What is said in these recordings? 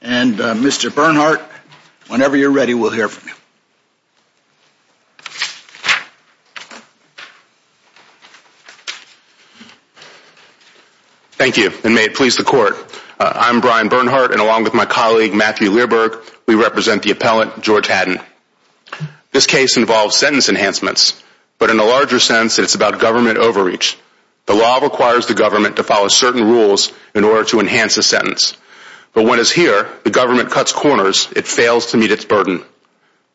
And Mr. Bernhardt, whenever you're ready, we'll hear from you. Thank you, and may it please the court. I'm Brian Bernhardt, and along with my colleague Matthew Learberg, we represent the appellant George Hadden. This case involves sentence enhancements, but in a larger sense, it's about government overreach. The law requires the government to follow certain rules in order to enhance a sentence, but when it's here, the government cuts corners, it fails to meet its burden.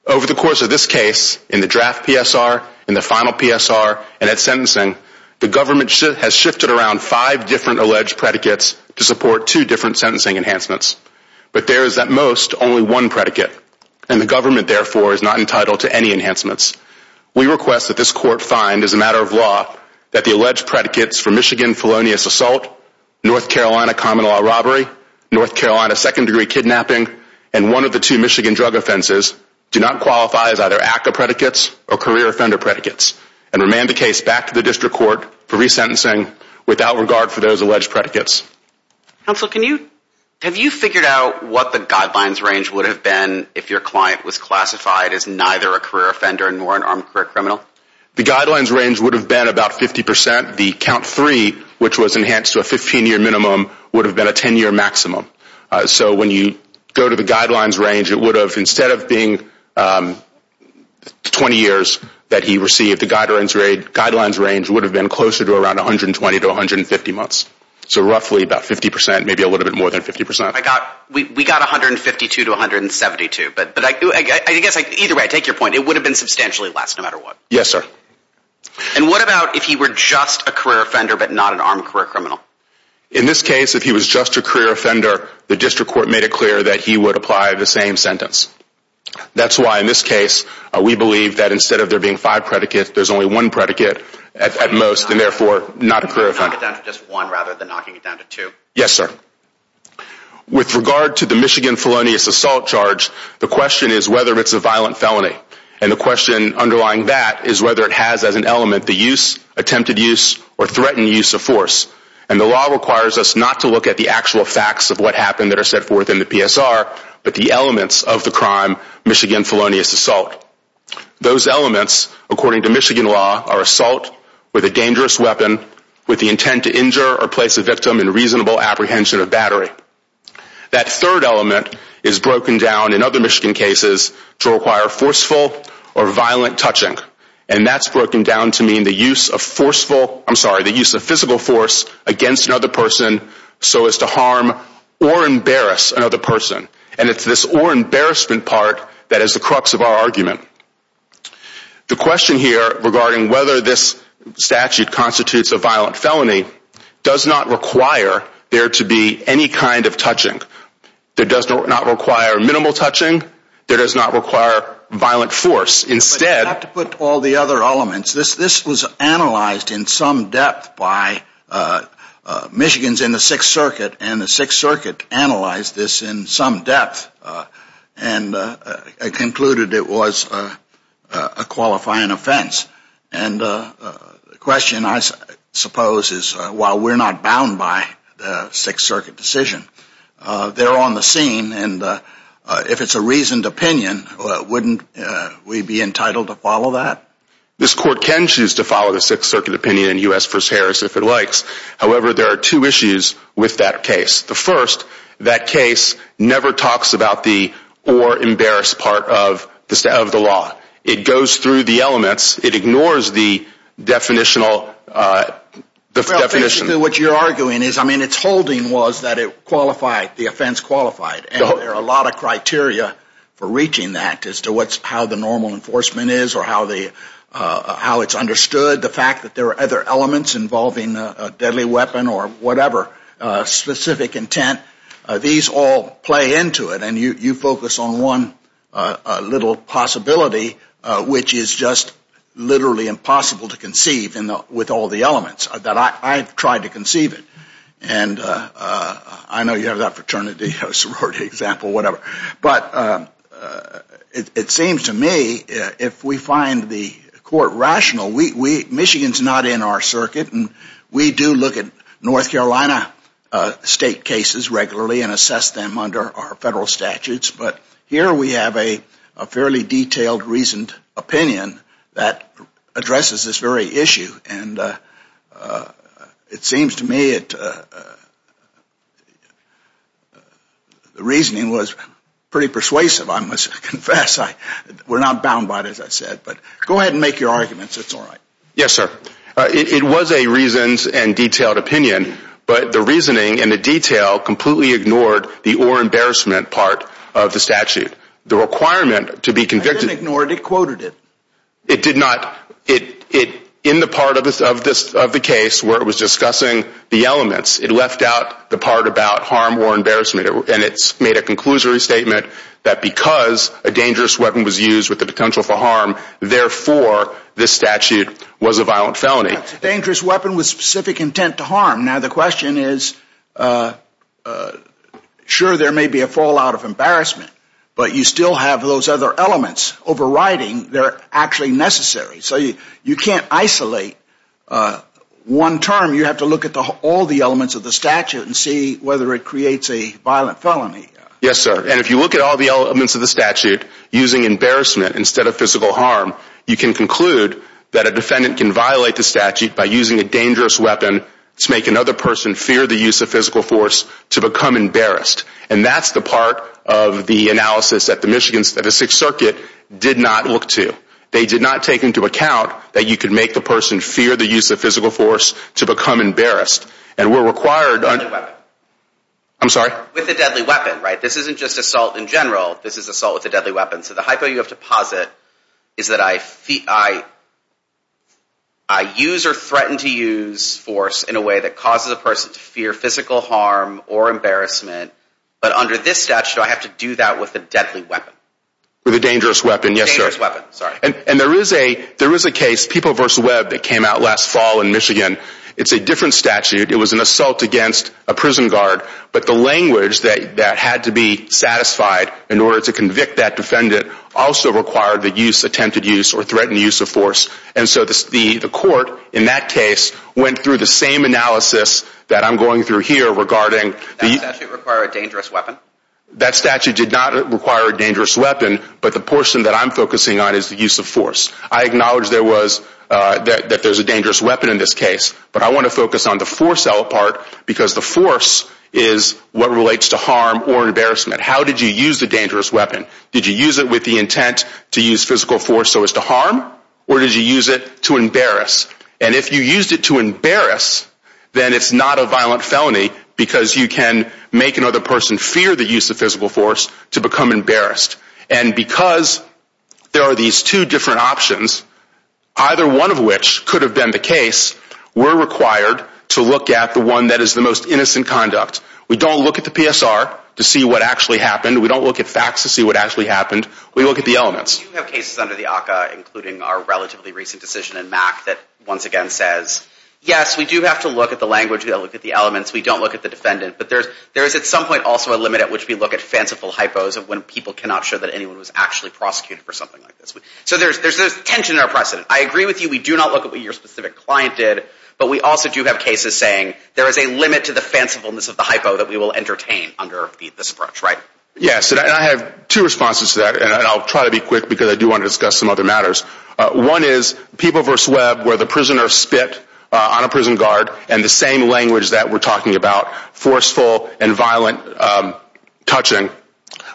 Over the course of this case, in the draft PSR, in the final PSR, and at sentencing, the government has shifted around five different alleged predicates to support two different sentencing enhancements, but there is at most only one predicate, and the government therefore is not entitled to any enhancements. We request that this court find, as a matter of law, that the alleged predicates for Michigan criminal law robbery, North Carolina second degree kidnapping, and one of the two Michigan drug offenses do not qualify as either ACCA predicates or career offender predicates, and remand the case back to the district court for resentencing without regard for those alleged predicates. Brian Bernhardt Counsel, can you, have you figured out what the guidelines range would have been if your client was classified as neither a career offender nor an armed career criminal? George Hadden The guidelines range would have been about 50 percent. The count three, which was enhanced to a 15-year minimum, would have been a 10-year maximum. So when you go to the guidelines range, it would have, instead of being 20 years that he received, the guidelines range would have been closer to around 120 to 150 months. So roughly about 50 percent, maybe a little bit more than 50 percent. Brian Bernhardt I got, we got 152 to 172, but I guess, either way, I take your point. It would have been substantially less, no matter what. George Hadden Yes, sir. Brian Bernhardt And what about if he were just a career offender, but not an armed career criminal? George Hadden In this case, if he was just a career offender, the district court made it clear that he would apply the same sentence. That's why in this case, we believe that instead of there being five predicates, there's only one predicate at most, and therefore not a career offender. Brian Bernhardt Knock it down to just one rather than knocking it down to two. George Hadden Yes, sir. With regard to the Michigan felonious assault charge, the question is whether it's a violent felony. And the question underlying that is whether it has as an element the use, attempted use, or threatened use of force. And the law requires us not to look at the actual facts of what happened that are set forth in the PSR, but the elements of the crime, Michigan felonious assault. Those elements, according to Michigan law, are assault with a dangerous weapon with the intent to injure or place a victim in reasonable apprehension or battery. That third element is broken down in other Michigan cases to require forceful or violent touching. And that's broken down to mean the use of forceful, I'm sorry, the use of physical force against another person so as to harm or embarrass another person. And it's this or embarrassment part that is the crux of our argument. The question here regarding whether this statute constitutes a violent felony does not require there to be any kind of touching. It does not require minimal touching. It does not require violent force. Instead... But you have to put all the other elements. This was analyzed in some depth by Michigans in the Sixth Circuit, and the Sixth Circuit analyzed this in some depth and concluded it was a qualifying offense. And the question I suppose is, while we're not bound by the Sixth Circuit decision, they're on the scene, and if it's a reasoned opinion, wouldn't we be entitled to follow that? This court can choose to follow the Sixth Circuit opinion in U.S. v. Harris if it likes. However, there are two issues with that case. The first, that case never talks about the or embarrass part of the law. It goes through the elements. It ignores the definition. What you're arguing is, I mean, it's holding was that it qualified, the offense qualified. And there are a lot of criteria for reaching that as to how the normal enforcement is or how it's understood. The fact that there are other elements involving a deadly weapon or whatever, specific intent, these all play into it, and you focus on one little possibility, which is just literally impossible to conceive with all the elements, that I've tried to conceive it. And I know you have that fraternity or sorority example, whatever. But it seems to me, if we find the court rational, Michigan's not in our circuit, and we do look at North Carolina state cases regularly and assess them under our federal statutes. But here we have a fairly detailed reasoned opinion that addresses this very issue. And it seems to me, the reasoning was pretty persuasive, I must confess. We're not bound by it, as I said. But go ahead and make your arguments. It's all right. Yes, sir. It was a reasoned and detailed opinion, but the reasoning and the detail completely ignored the or embarrassment part of the statute. The requirement to be convicted- It didn't ignore it, it quoted it. It did not. In the part of the case where it was discussing the elements, it left out the part about harm or embarrassment. And it made a conclusory statement that because a dangerous weapon was used with the potential for harm, therefore, this statute was a violent felony. A dangerous weapon with specific intent to harm. Now the question is, sure there may be a fallout of embarrassment, but you still have those other elements overriding that are actually necessary. So you can't isolate one term. You have to look at all the elements of the statute and see whether it creates a violent felony. Yes, sir. And if you look at all the elements of the statute using embarrassment instead of physical harm, you can conclude that a defendant can violate the statute by using a dangerous weapon to make another person fear the use of physical force to become embarrassed. And that's the part of the analysis that the Michigan Statistics Circuit did not look to. They did not take into account that you could make the person fear the use of physical force to become embarrassed. And we're required- With a deadly weapon. I'm sorry? With a deadly weapon, right? This isn't just assault in general. This is assault with a deadly weapon. So the hypo you have to posit is that I use or threaten to use force in a way that causes a person to fear physical harm or embarrassment. But under this statute, I have to do that with a deadly weapon. With a dangerous weapon, yes, sir. A dangerous weapon, sorry. And there is a case, People v. Webb, that came out last fall in Michigan. It's a different statute. It was an assault against a prison guard, but the language that had to be satisfied in order to convict that defendant also required the use, attempted use, or threatened use of force. And so the court in that case went through the same analysis that I'm going through here regarding- Did that statute require a dangerous weapon? That statute did not require a dangerous weapon, but the portion that I'm focusing on is the use of force. I acknowledge that there's a dangerous weapon in this case, but I want to focus on the force element because the force is what relates to harm or embarrassment. How did you use the dangerous weapon? Did you use it with the intent to use physical force so as to harm or did you use it to embarrass? And if you used it to embarrass, then it's not a violent felony because you can make another person fear the use of physical force to become embarrassed. And because there are these two different options, either one of which could have been the case, we're required to look at the one that is the most innocent conduct. We don't look at the PSR to see what actually happened. We don't look at facts to see what actually happened. We look at the elements. You have cases under the ACCA, including our relatively recent decision in MAC, that once again says, yes, we do have to look at the language, we have to look at the elements, we don't look at the defendant, but there is at some point also a limit at which we look at fanciful hypos of when people cannot show that anyone was actually prosecuted for something like this. So there's tension in our precedent. I agree with you. We do not look at what your specific client did, but we also do have cases saying there is a limit to the fancifulness of the hypo that we will entertain under this approach, right? Yes. And I have two responses to that, and I'll try to be quick because I do want to discuss some other matters. One is People v. Webb, where the prisoner spit on a prison guard in the same language that we're talking about, forceful and violent touching.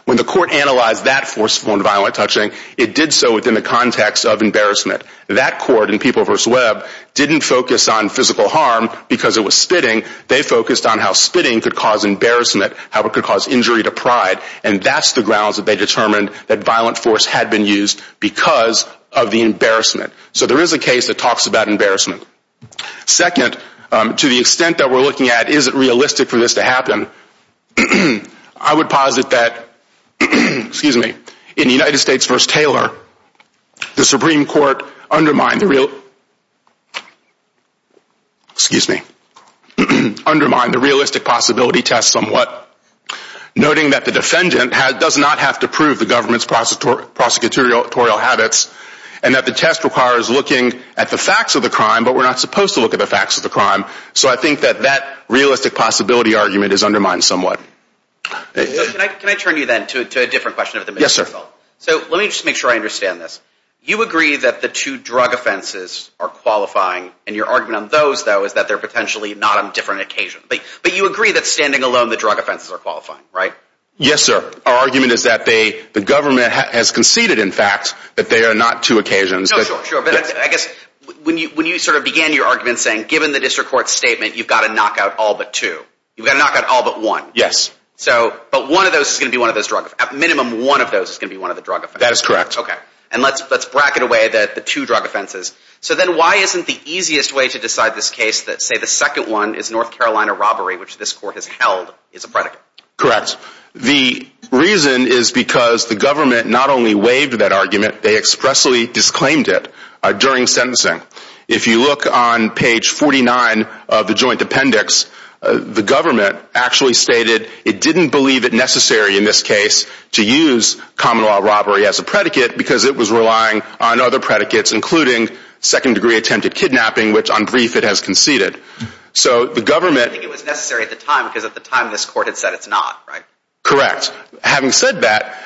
When the court analyzed that forceful and violent touching, it did so within the context of embarrassment. That court in People v. Webb didn't focus on physical harm because it was spitting, they focused on how spitting could cause embarrassment, how it could cause injury to pride, and that's the grounds that they determined that violent force had been used because of the embarrassment. So there is a case that talks about embarrassment. Second, to the extent that we're looking at is it realistic for this to happen, I would undermine the realistic possibility test somewhat, noting that the defendant does not have to prove the government's prosecutorial habits, and that the test requires looking at the facts of the crime, but we're not supposed to look at the facts of the crime. So I think that that realistic possibility argument is undermined somewhat. Can I turn you then to a different question of the middle? So let me just make sure I understand this. You agree that the two drug offenses are qualifying, and your argument on those, though, is that they're potentially not on different occasions, but you agree that standing alone the drug offenses are qualifying, right? Yes, sir. Our argument is that the government has conceded, in fact, that they are not two occasions. No, sure, sure. But I guess when you sort of began your argument saying, given the district court's statement, you've got to knock out all but two, you've got to knock out all but one. Yes. So, but one of those is going to be one of those drug, at minimum, one of those is going to be one of the drug offenses. That is correct. Okay. And let's bracket away the two drug offenses. So then why isn't the easiest way to decide this case that, say, the second one is North Carolina robbery, which this court has held is a predicate? Correct. The reason is because the government not only waived that argument, they expressly disclaimed it during sentencing. If you look on page 49 of the joint appendix, the government actually stated it didn't believe it necessary in this case to use common law robbery as a predicate because it was relying on other predicates, including second-degree attempted kidnapping, which, on brief, it has conceded. So the government... They didn't think it was necessary at the time because at the time this court had said it's not, right? Correct. Having said that,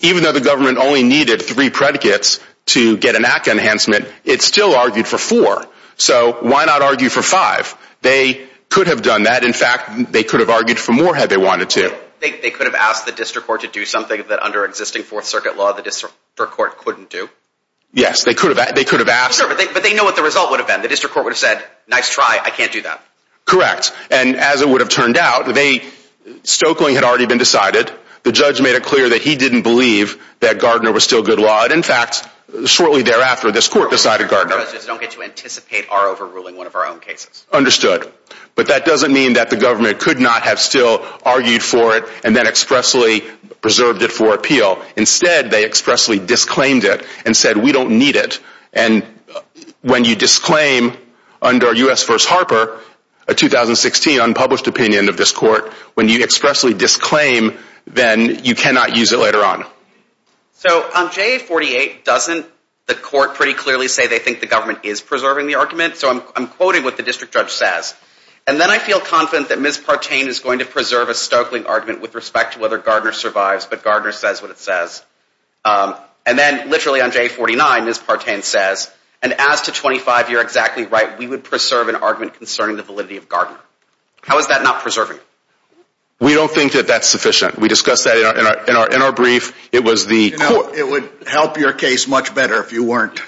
even though the government only needed three predicates to get an act enhancement, it still argued for four. So why not argue for five? They could have done that. In fact, they could have argued for more had they wanted to. They could have asked the district court to do something that under existing Fourth Circuit law the district court couldn't do? Yes. They could have asked. Sure, but they know what the result would have been. The district court would have said, nice try, I can't do that. Correct. And as it would have turned out, Stoeckling had already been decided. The judge made it clear that he didn't believe that Gardner was still good law. In fact, shortly thereafter, this court decided Gardner... We don't get to anticipate our overruling one of our own cases. Understood. But that doesn't mean that the government could not have still argued for it and then expressly preserved it for appeal. Instead, they expressly disclaimed it and said, we don't need it. And when you disclaim under U.S. v. Harper a 2016 unpublished opinion of this court, when you expressly disclaim, then you cannot use it later on. So on JA-48, doesn't the court pretty clearly say they think the government is preserving the argument? So I'm quoting what the district judge says. And then I feel confident that Ms. Partain is going to preserve a Stoeckling argument with respect to whether Gardner survives, but Gardner says what it says. And then literally on JA-49, Ms. Partain says, and as to 25, you're exactly right, we would preserve an argument concerning the validity of Gardner. How is that not preserving? We don't think that that's sufficient. We discussed that in our brief. It was the court... So it would help your case much better if you weren't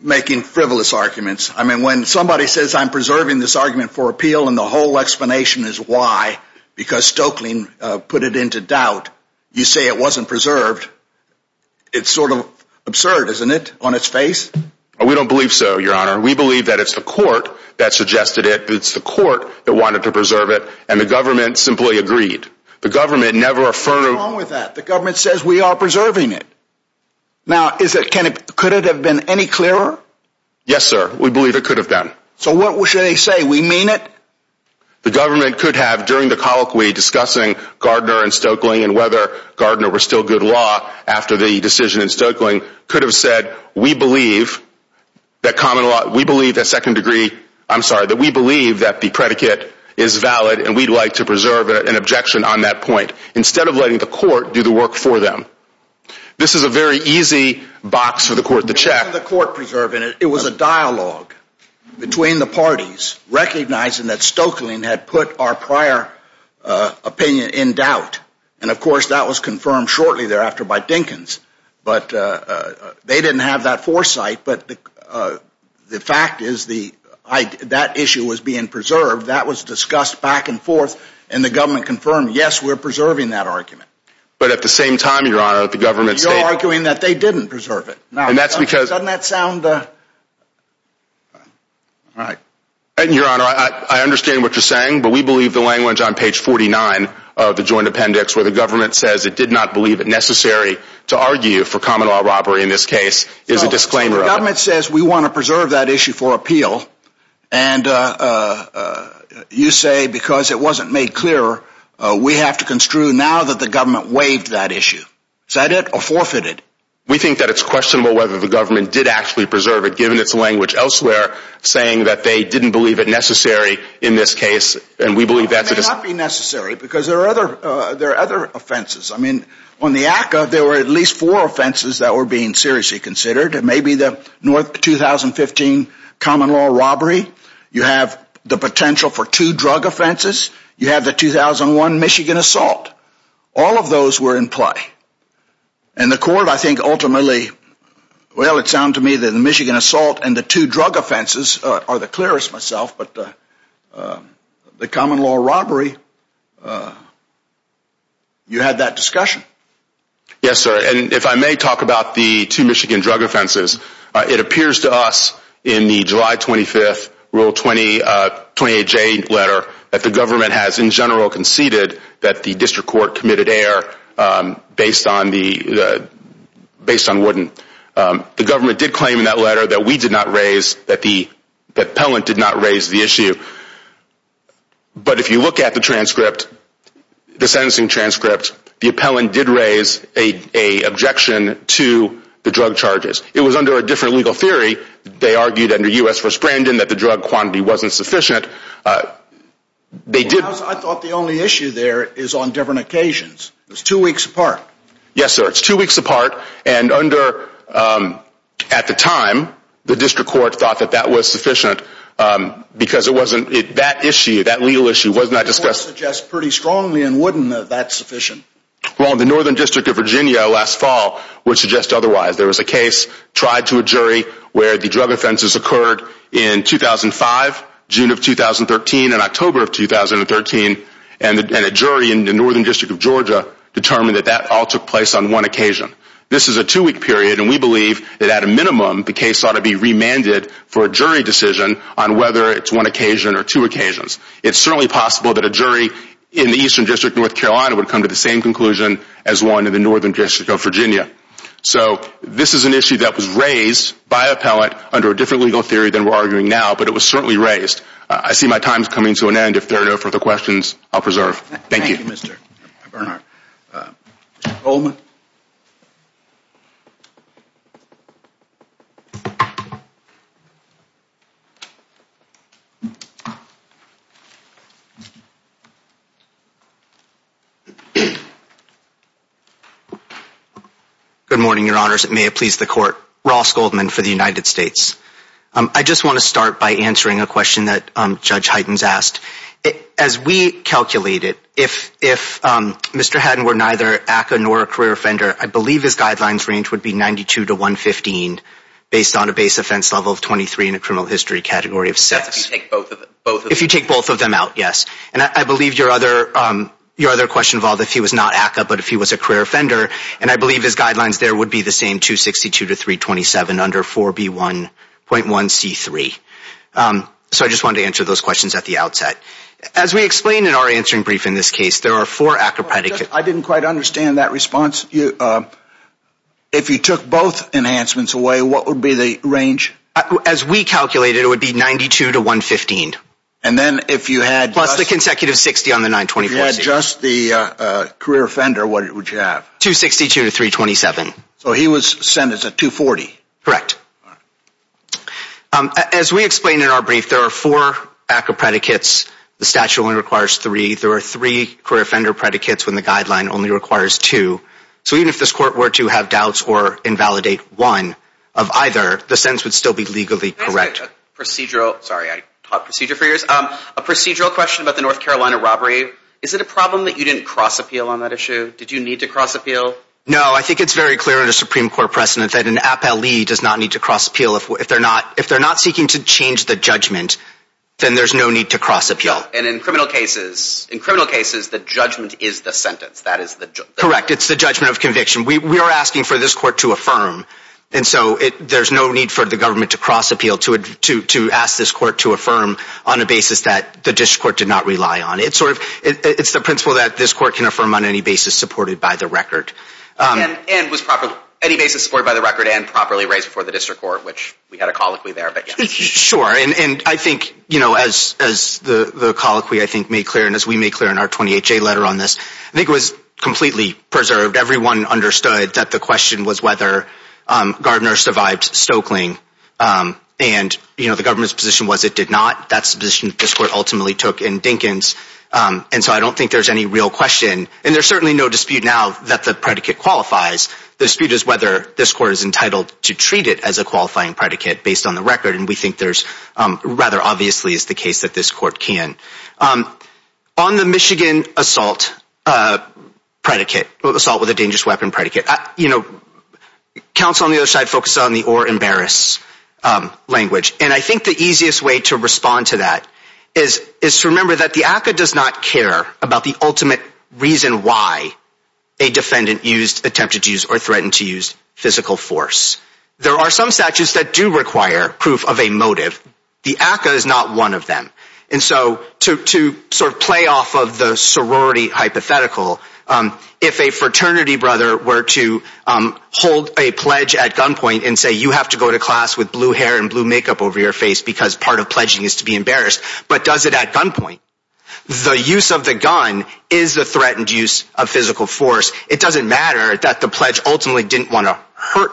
making frivolous arguments. I mean, when somebody says, I'm preserving this argument for appeal, and the whole explanation is why, because Stoeckling put it into doubt, you say it wasn't preserved. It's sort of absurd, isn't it, on its face? We don't believe so, Your Honor. We believe that it's the court that suggested it. It's the court that wanted to preserve it, and the government simply agreed. The government never... What's wrong with that? The government says we are preserving it. Now, could it have been any clearer? Yes, sir. We believe it could have been. So what should they say? We mean it? The government could have, during the colloquy discussing Gardner and Stoeckling, and whether Gardner was still good law after the decision in Stoeckling, could have said, we believe that common law... We believe that second degree... I'm sorry, that we believe that the predicate is valid, and we'd like to preserve an objection on that point. Instead of letting the court do the work for them. This is a very easy box for the court to check. It wasn't the court preserving it. It was a dialogue between the parties, recognizing that Stoeckling had put our prior opinion in doubt. And, of course, that was confirmed shortly thereafter by Dinkins. But they didn't have that foresight, but the fact is that issue was being preserved. That was discussed back and forth, and the government confirmed, yes, we're preserving that argument. But at the same time, your honor, the government... You're arguing that they didn't preserve it. Now, doesn't that sound... Your honor, I understand what you're saying, but we believe the language on page 49 of the joint appendix, where the government says it did not believe it necessary to argue for common law robbery in this case, is a disclaimer. The government says we want to preserve that issue for appeal, and you say because it wasn't made clear, we have to construe now that the government waived that issue. Is that it, or forfeited? We think that it's questionable whether the government did actually preserve it, given its language elsewhere, saying that they didn't believe it necessary in this case, and we believe that... It may not be necessary, because there are other offenses. On the ACCA, there were at least four offenses that were being seriously considered. It may be the 2015 common law robbery. You have the potential for two drug offenses. You have the 2001 Michigan assault. All of those were in play. And the court, I think, ultimately, well, it sounded to me that the Michigan assault and the two drug offenses are the clearest, myself, but the common law robbery, you had that discussion. Yes, sir. If I may talk about the two Michigan drug offenses, it appears to us in the July 25th Rule 28J letter that the government has, in general, conceded that the district court committed error based on Wharton. The government did claim in that letter that we did not raise, that the appellant did not raise the issue. But, if you look at the transcript, the sentencing transcript, the appellant did raise an objection to the drug charges. It was under a different legal theory. They argued under U.S. v. Brandon that the drug quantity wasn't sufficient. They did... I thought the only issue there is on different occasions. It's two weeks apart. Yes, sir. It's two weeks apart, and under, at the time, the district court thought that that was sufficient, because it wasn't... that issue, that legal issue, was not discussed... The court suggests pretty strongly and wouldn't know that's sufficient. Well, the Northern District of Virginia, last fall, would suggest otherwise. There was a case tried to a jury where the drug offenses occurred in 2005, June of 2013, and October of 2013, and a jury in the Northern District of Georgia determined that that all took place on one occasion. This is a two-week period, and we believe that, at a minimum, the case ought to be remanded for a jury decision on whether it's one occasion or two occasions. It's certainly possible that a jury in the Eastern District of North Carolina would come to the same conclusion as one in the Northern District of Virginia. So this is an issue that was raised by appellant under a different legal theory than we're arguing now, but it was certainly raised. I see my time's coming to an end. If there are no further questions, I'll preserve. Thank you, Mr. Bernhardt. Mr. Goldman? Good morning, Your Honors, and may it please the Court. Ross Goldman for the United States. I just want to start by answering a question that Judge Heitens asked. As we calculated, if Mr. Hadden were neither ACCA nor a career offender, I believe his guidelines range would be 92 to 115 based on a base offense level of 23 in a criminal history category of 6. If you take both of them out, yes. And I believe your other question involved if he was not ACCA but if he was a career offender, and I believe his guidelines there would be the same, 262 to 327 under 4B1.1C3. So I just wanted to answer those questions at the outset. As we explained in our answering brief in this case, there are four ACCA predicates. I didn't quite understand that response. If you took both enhancements away, what would be the range? As we calculated, it would be 92 to 115. And then if you had... Plus the consecutive 60 on the 924C. If you had just the career offender, what would you have? 262 to 327. So he was sentenced at 240. Correct. As we explained in our brief, there are four ACCA predicates. The statute only requires three. There are three career offender predicates when the guideline only requires two. So even if this court were to have doubts or invalidate one of either, the sentence would still be legally correct. Procedural... Sorry, I taught procedure for years. A procedural question about the North Carolina robbery. Is it a problem that you didn't cross-appeal on that issue? Did you need to cross-appeal? No. I think it's very clear in a Supreme Court precedent that an appellee does not need to cross-appeal. If they're not seeking to change the judgment, then there's no need to cross-appeal. And in criminal cases, the judgment is the sentence. That is the... Correct. It's the judgment of conviction. We are asking for this court to affirm. And so there's no need for the government to cross-appeal to ask this court to affirm on a basis that the district court did not rely on. It's the principle that this court can affirm on any basis supported by the record. And was any basis supported by the record and properly raised before the district court, which we had a colloquy there, but yes. Sure. And I think, you know, as the colloquy, I think, made clear and as we made clear in our 28-J letter on this, I think it was completely preserved. Everyone understood that the question was whether Gardner survived Stokeling. And you know, the government's position was it did not. That's the position this court ultimately took in Dinkins. And so I don't think there's any real question. And there's certainly no dispute now that the predicate qualifies. The dispute is whether this court is entitled to treat it as a qualifying predicate based on the record. And we think there's rather obviously is the case that this court can. On the Michigan assault predicate, assault with a dangerous weapon predicate, you know, counsel on the other side focused on the or embarrass language. And I think the easiest way to respond to that is to remember that the ACA does not care about the ultimate reason why a defendant used, attempted to use, or threatened to use physical force. There are some statutes that do require proof of a motive. The ACA is not one of them. And so to sort of play off of the sorority hypothetical, if a fraternity brother were to hold a pledge at gunpoint and say, you have to go to class with blue hair and blue makeup over your face because part of pledging is to be embarrassed, but does it at gunpoint, the use of the gun is the threatened use of physical force. It doesn't matter that the pledge ultimately didn't want to hurt,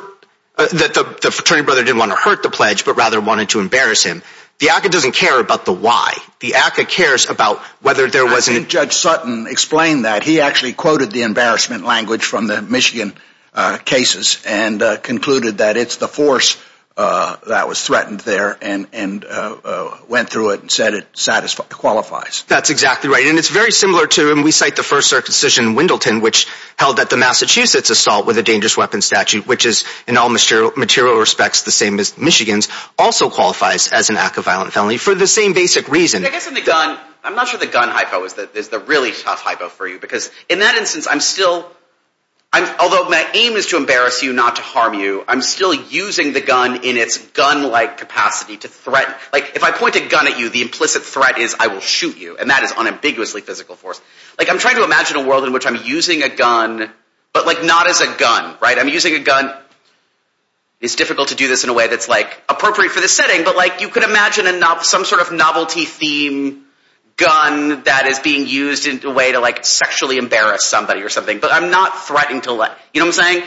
that the fraternity brother didn't want to hurt the pledge, but rather wanted to embarrass him. The ACA doesn't care about the why. The ACA cares about whether there was an... I think Judge Sutton explained that. He actually quoted the embarrassment language from the Michigan cases and concluded that it's the force that was threatened there and went through it and said it qualifies. That's exactly right. And it's very similar to, and we cite the first circumcision in Wendleton, which held that the Massachusetts assault with a dangerous weapon statute, which is in all material respects the same as Michigan's, also qualifies as an act of violent felony for the same basic reason. I guess in the gun, I'm not sure the gun hypo is the really tough hypo for you because in that instance, I'm still... Although my aim is to embarrass you, not to harm you, I'm still using the gun in its gun-like capacity to threaten. If I point a gun at you, the implicit threat is I will shoot you, and that is unambiguously physical force. I'm trying to imagine a world in which I'm using a gun, but not as a gun. I'm using a gun... It's difficult to do this in a way that's appropriate for this setting, but you could I'm not threatening to let... You know what I'm saying?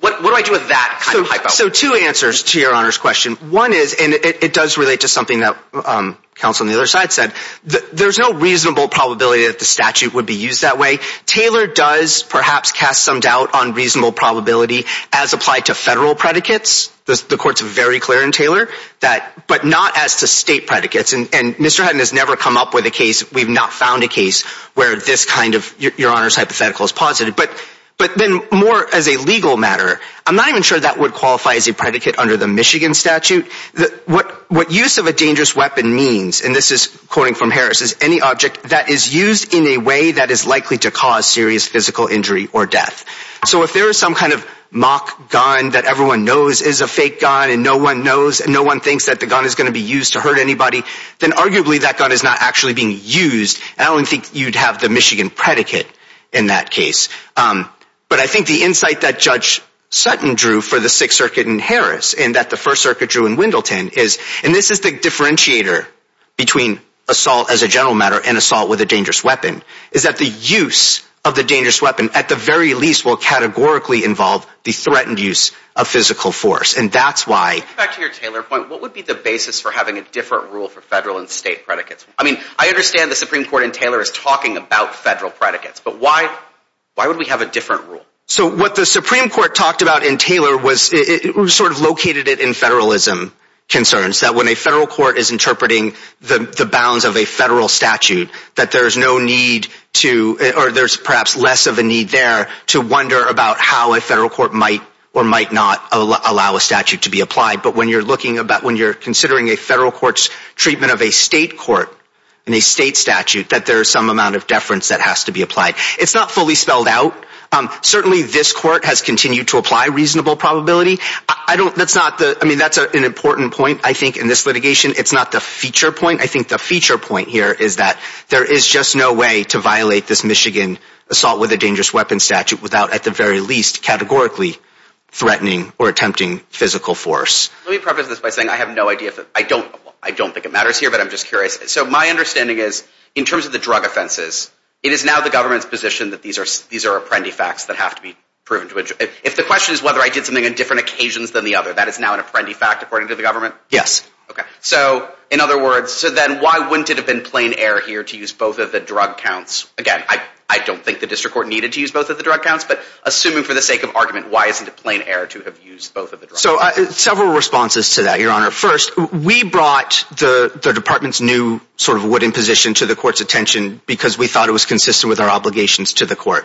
What do I do with that kind of hypo? So two answers to your Honor's question. One is, and it does relate to something that counsel on the other side said, there's no reasonable probability that the statute would be used that way. Taylor does perhaps cast some doubt on reasonable probability as applied to federal predicates. The court's very clear in Taylor, but not as to state predicates. And Mr. Hutton has never come up with a case, we've not found a case, where this kind of, your Honor's hypothetical is positive. But then more as a legal matter, I'm not even sure that would qualify as a predicate under the Michigan statute. What use of a dangerous weapon means, and this is quoting from Harris, is any object that is used in a way that is likely to cause serious physical injury or death. So if there is some kind of mock gun that everyone knows is a fake gun and no one knows and no one thinks that the gun is going to be used to hurt anybody, then arguably that you'd have the Michigan predicate in that case. But I think the insight that Judge Sutton drew for the Sixth Circuit in Harris and that the First Circuit drew in Wendleton is, and this is the differentiator between assault as a general matter and assault with a dangerous weapon, is that the use of the dangerous weapon at the very least will categorically involve the threatened use of physical force. And that's why... Back to your Taylor point, what would be the basis for having a different rule for federal and state predicates? I mean, I understand the Supreme Court in Taylor is talking about federal predicates, but why would we have a different rule? So what the Supreme Court talked about in Taylor was, it sort of located it in federalism concerns, that when a federal court is interpreting the bounds of a federal statute, that there's no need to, or there's perhaps less of a need there to wonder about how a federal court might or might not allow a statute to be applied. But when you're looking about, when you're considering a federal court's treatment of a state court and a state statute, that there is some amount of deference that has to be applied. It's not fully spelled out. Certainly this court has continued to apply reasonable probability. I don't... That's not the... I mean, that's an important point, I think, in this litigation. It's not the feature point. I think the feature point here is that there is just no way to violate this Michigan assault with a dangerous weapon statute without, at the very least, categorically threatening or attempting physical force. Let me preface this by saying I have no idea if... I don't think it matters here, but I'm just curious. So my understanding is, in terms of the drug offenses, it is now the government's position that these are apprendi-facts that have to be proven to... If the question is whether I did something on different occasions than the other, that is now an apprendi-fact, according to the government? Yes. Okay. So in other words, so then why wouldn't it have been plain error here to use both of the drug counts? Again, I don't think the district court needed to use both of the drug counts, but assuming for the sake of argument, why isn't it plain error to have used both of the drug counts? So several responses to that, Your Honor. First, we brought the department's new sort of wooden position to the court's attention because we thought it was consistent with our obligations to the court.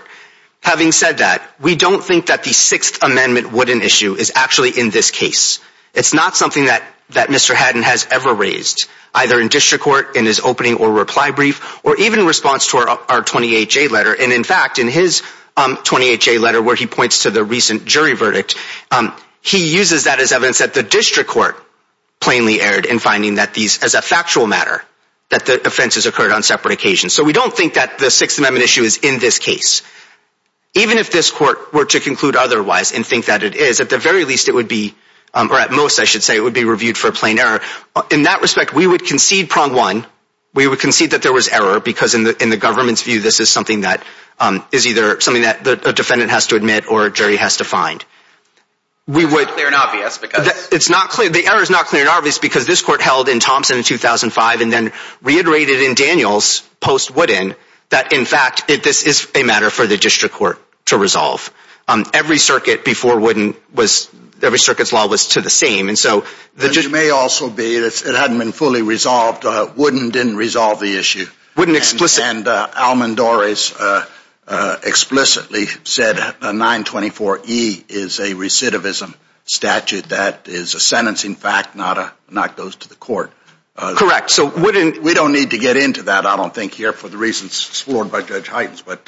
Having said that, we don't think that the Sixth Amendment wooden issue is actually in this case. It's not something that Mr. Haddon has ever raised, either in district court, in his opening or reply brief, or even in response to our 28-J letter. And in fact, in his 28-J letter where he points to the recent jury verdict, he uses that as evidence that the district court plainly erred in finding that these, as a factual matter, that the offenses occurred on separate occasions. So we don't think that the Sixth Amendment issue is in this case. Even if this court were to conclude otherwise and think that it is, at the very least it would be, or at most, I should say, it would be reviewed for plain error. In that respect, we would concede prong one. We would concede that there was error because in the government's view, this is something that is either something that a defendant has to admit or a jury has to find. We would... It's clear and obvious because... It's not clear... The error is not clear and obvious because this court held in Thompson in 2005 and then reiterated in Daniels post-Wooden that, in fact, this is a matter for the district court to resolve. Every circuit before Wooden was... Every circuit's law was to the same. And so... It may also be that it hadn't been fully resolved. Wooden didn't resolve the issue. Wooden explicitly... And Almond Doris explicitly said 924E is a recidivism statute that is a sentencing fact, not a... Not goes to the court. Correct. So, Wooden... We don't need to get into that, I don't think, here for the reasons sworn by Judge Hytens, but...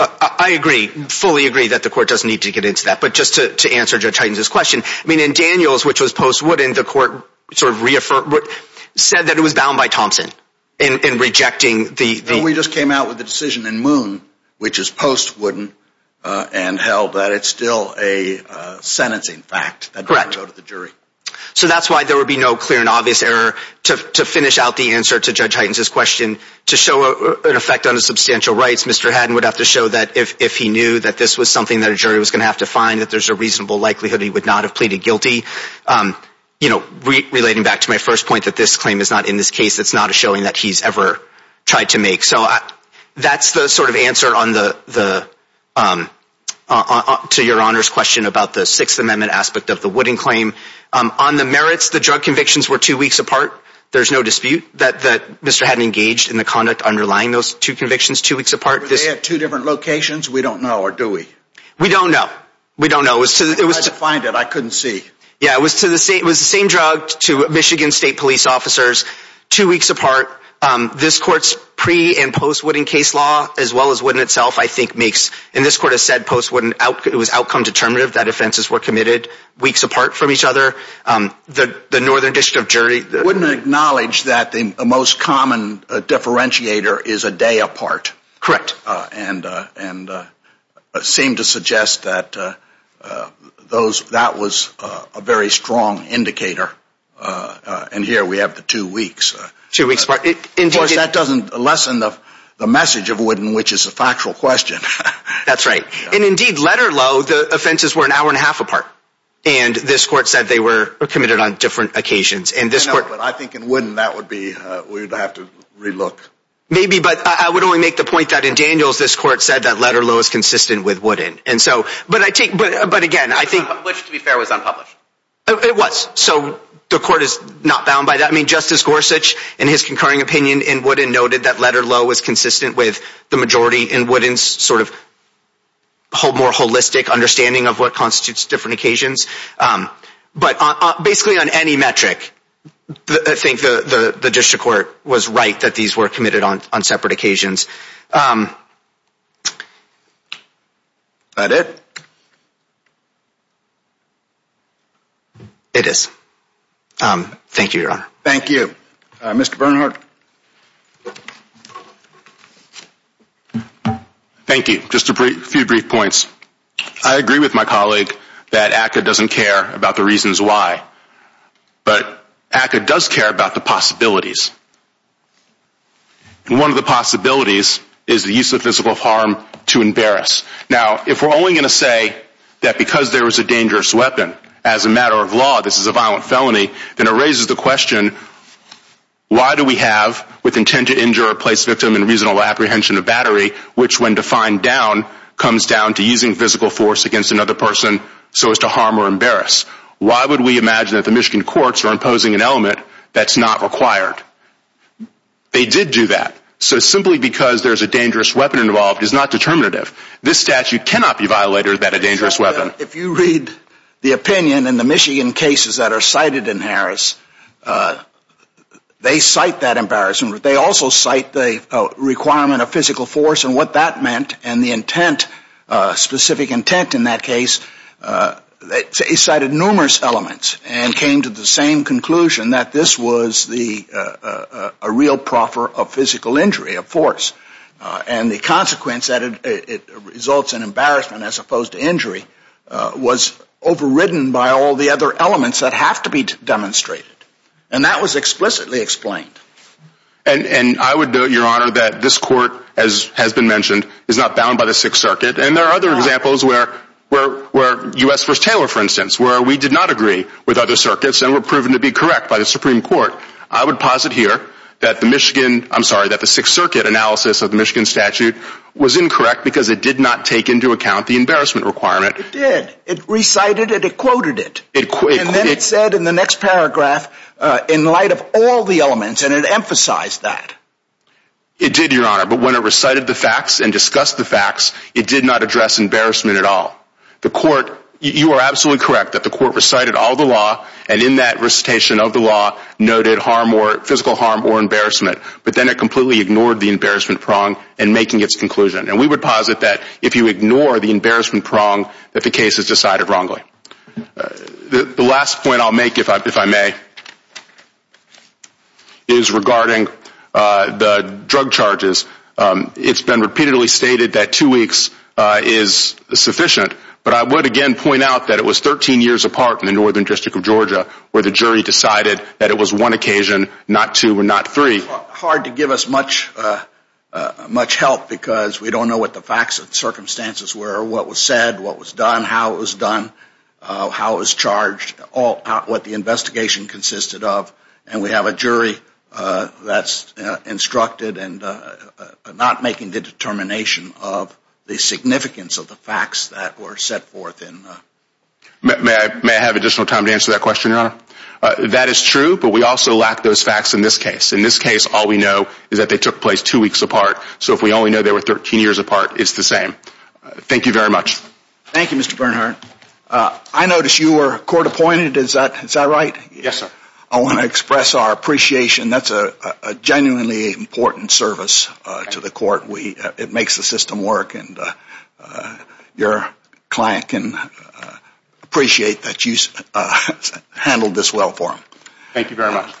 I agree. Fully agree that the court doesn't need to get into that. But just to answer Judge Hytens' question, I mean, in Daniels, which was post-Wooden, the court sort of said that it was bound by Thompson in rejecting the... And we just came out with the decision in Moon, which is post-Wooden, and held that it's still a sentencing fact that doesn't go to the jury. Correct. So that's why there would be no clear and obvious error. To finish out the answer to Judge Hytens' question, to show an effect on his substantial rights, Mr. Hadden would have to show that if he knew that this was something that a jury was going to have to find, that there's a reasonable likelihood he would not have pleaded guilty. You know, relating back to my first point that this claim is not in this case, it's not a showing that he's ever tried to make. So that's the sort of answer to Your Honor's question about the Sixth Amendment aspect of the Wooden claim. On the merits, the drug convictions were two weeks apart. There's no dispute that Mr. Hadden engaged in the conduct underlying those two convictions two weeks apart. Were they at two different locations? We don't know. Or do we? We don't know. We don't know. I tried to find it. I couldn't see. Yeah, it was the same drug to Michigan State Police officers, two weeks apart. This Court's pre- and post-Wooden case law, as well as Wooden itself, I think makes, and this Court has said post-Wooden, it was outcome-determinative that offenses were committed weeks apart from each other. The Northern District of Jury... Wouldn't acknowledge that the most common differentiator is a day apart. Correct. And seemed to suggest that that was a very strong indicator. And here we have the two weeks. Two weeks apart. Of course, that doesn't lessen the message of Wooden, which is a factual question. That's right. And indeed, letter low, the offenses were an hour and a half apart. And this Court said they were committed on different occasions. And this Court... I know, but I think in Wooden, that would be, we'd have to relook. Maybe, but I would only make the point that in Daniels, this Court said that letter low is consistent with Wooden. And so, but I take, but again, I think... It was unpublished, to be fair, it was unpublished. It was. So the Court is not bound by that. I mean, Justice Gorsuch, in his concurring opinion in Wooden, noted that letter low was consistent with the majority in Wooden's sort of more holistic understanding of what constitutes different occasions. But basically, on any metric, I think the District Court was right that these were committed on separate occasions. Is that it? It is. Thank you, Your Honor. Thank you. Mr. Bernhardt. Thank you. Just a few brief points. I agree with my colleague that ACCA doesn't care about the reasons why, but ACCA does care about the possibilities. One of the possibilities is the use of physical harm to embarrass. Now, if we're only going to say that because there was a dangerous weapon, as a matter of law, this is a violent felony, then it raises the question, why do we have, with intent to injure or place victim in reasonable apprehension of battery, which when defined down comes down to using physical force against another person so as to harm or embarrass? Why would we imagine that the Michigan courts are imposing an element that's not required? They did do that. So simply because there's a dangerous weapon involved is not determinative. This statute cannot be violated without a dangerous weapon. If you read the opinion in the Michigan cases that are cited in Harris, they cite that embarrassment. They also cite the requirement of physical force and what that meant and the intent, specific intent in that case, they cited numerous elements and came to the same conclusion that this was a real proffer of physical injury, of force. And the consequence that it results in embarrassment as opposed to injury was overridden by all the other elements that have to be demonstrated. And that was explicitly explained. And I would note, Your Honor, that this court, as has been mentioned, is not bound by the Sixth Circuit. And there are other examples where U.S. v. Taylor, for instance, where we did not agree with other circuits and were proven to be correct by the Supreme Court. I would posit here that the Michigan, I'm sorry, that the Sixth Circuit analysis of the Michigan statute was incorrect because it did not take into account the embarrassment requirement. It did. It recited it. It quoted it. And then it said in the next paragraph, in light of all the elements, and it emphasized that. It did, Your Honor, but when it recited the facts and discussed the facts, it did not address embarrassment at all. The court, you are absolutely correct that the court recited all the law and in that recitation of the law noted physical harm or embarrassment, but then it completely ignored the embarrassment prong in making its conclusion. And we would posit that if you ignore the embarrassment prong, that the case is decided wrongly. The last point I'll make, if I may, is regarding the drug charges. It's been repeatedly stated that two weeks is sufficient, but I would again point out that it was 13 years apart in the Northern District of Georgia where the jury decided that it was one occasion, not two and not three. Hard to give us much help because we don't know what the facts and circumstances were, what was said, what was done, how it was done, how it was charged, what the investigation consisted of. And we have a jury that's instructed and not making the determination of the significance of the facts that were set forth in the... May I have additional time to answer that question, Your Honor? That is true, but we also lack those facts in this case. In this case, all we know is that they took place two weeks apart. So if we only know they were 13 years apart, it's the same. Thank you very much. Thank you, Mr. Bernhardt. I noticed you were court appointed. Is that right? Yes, sir. I want to express our appreciation. That's a genuinely important service to the court. It makes the system work, and your client can appreciate that you handled this well for him. Thank you very much.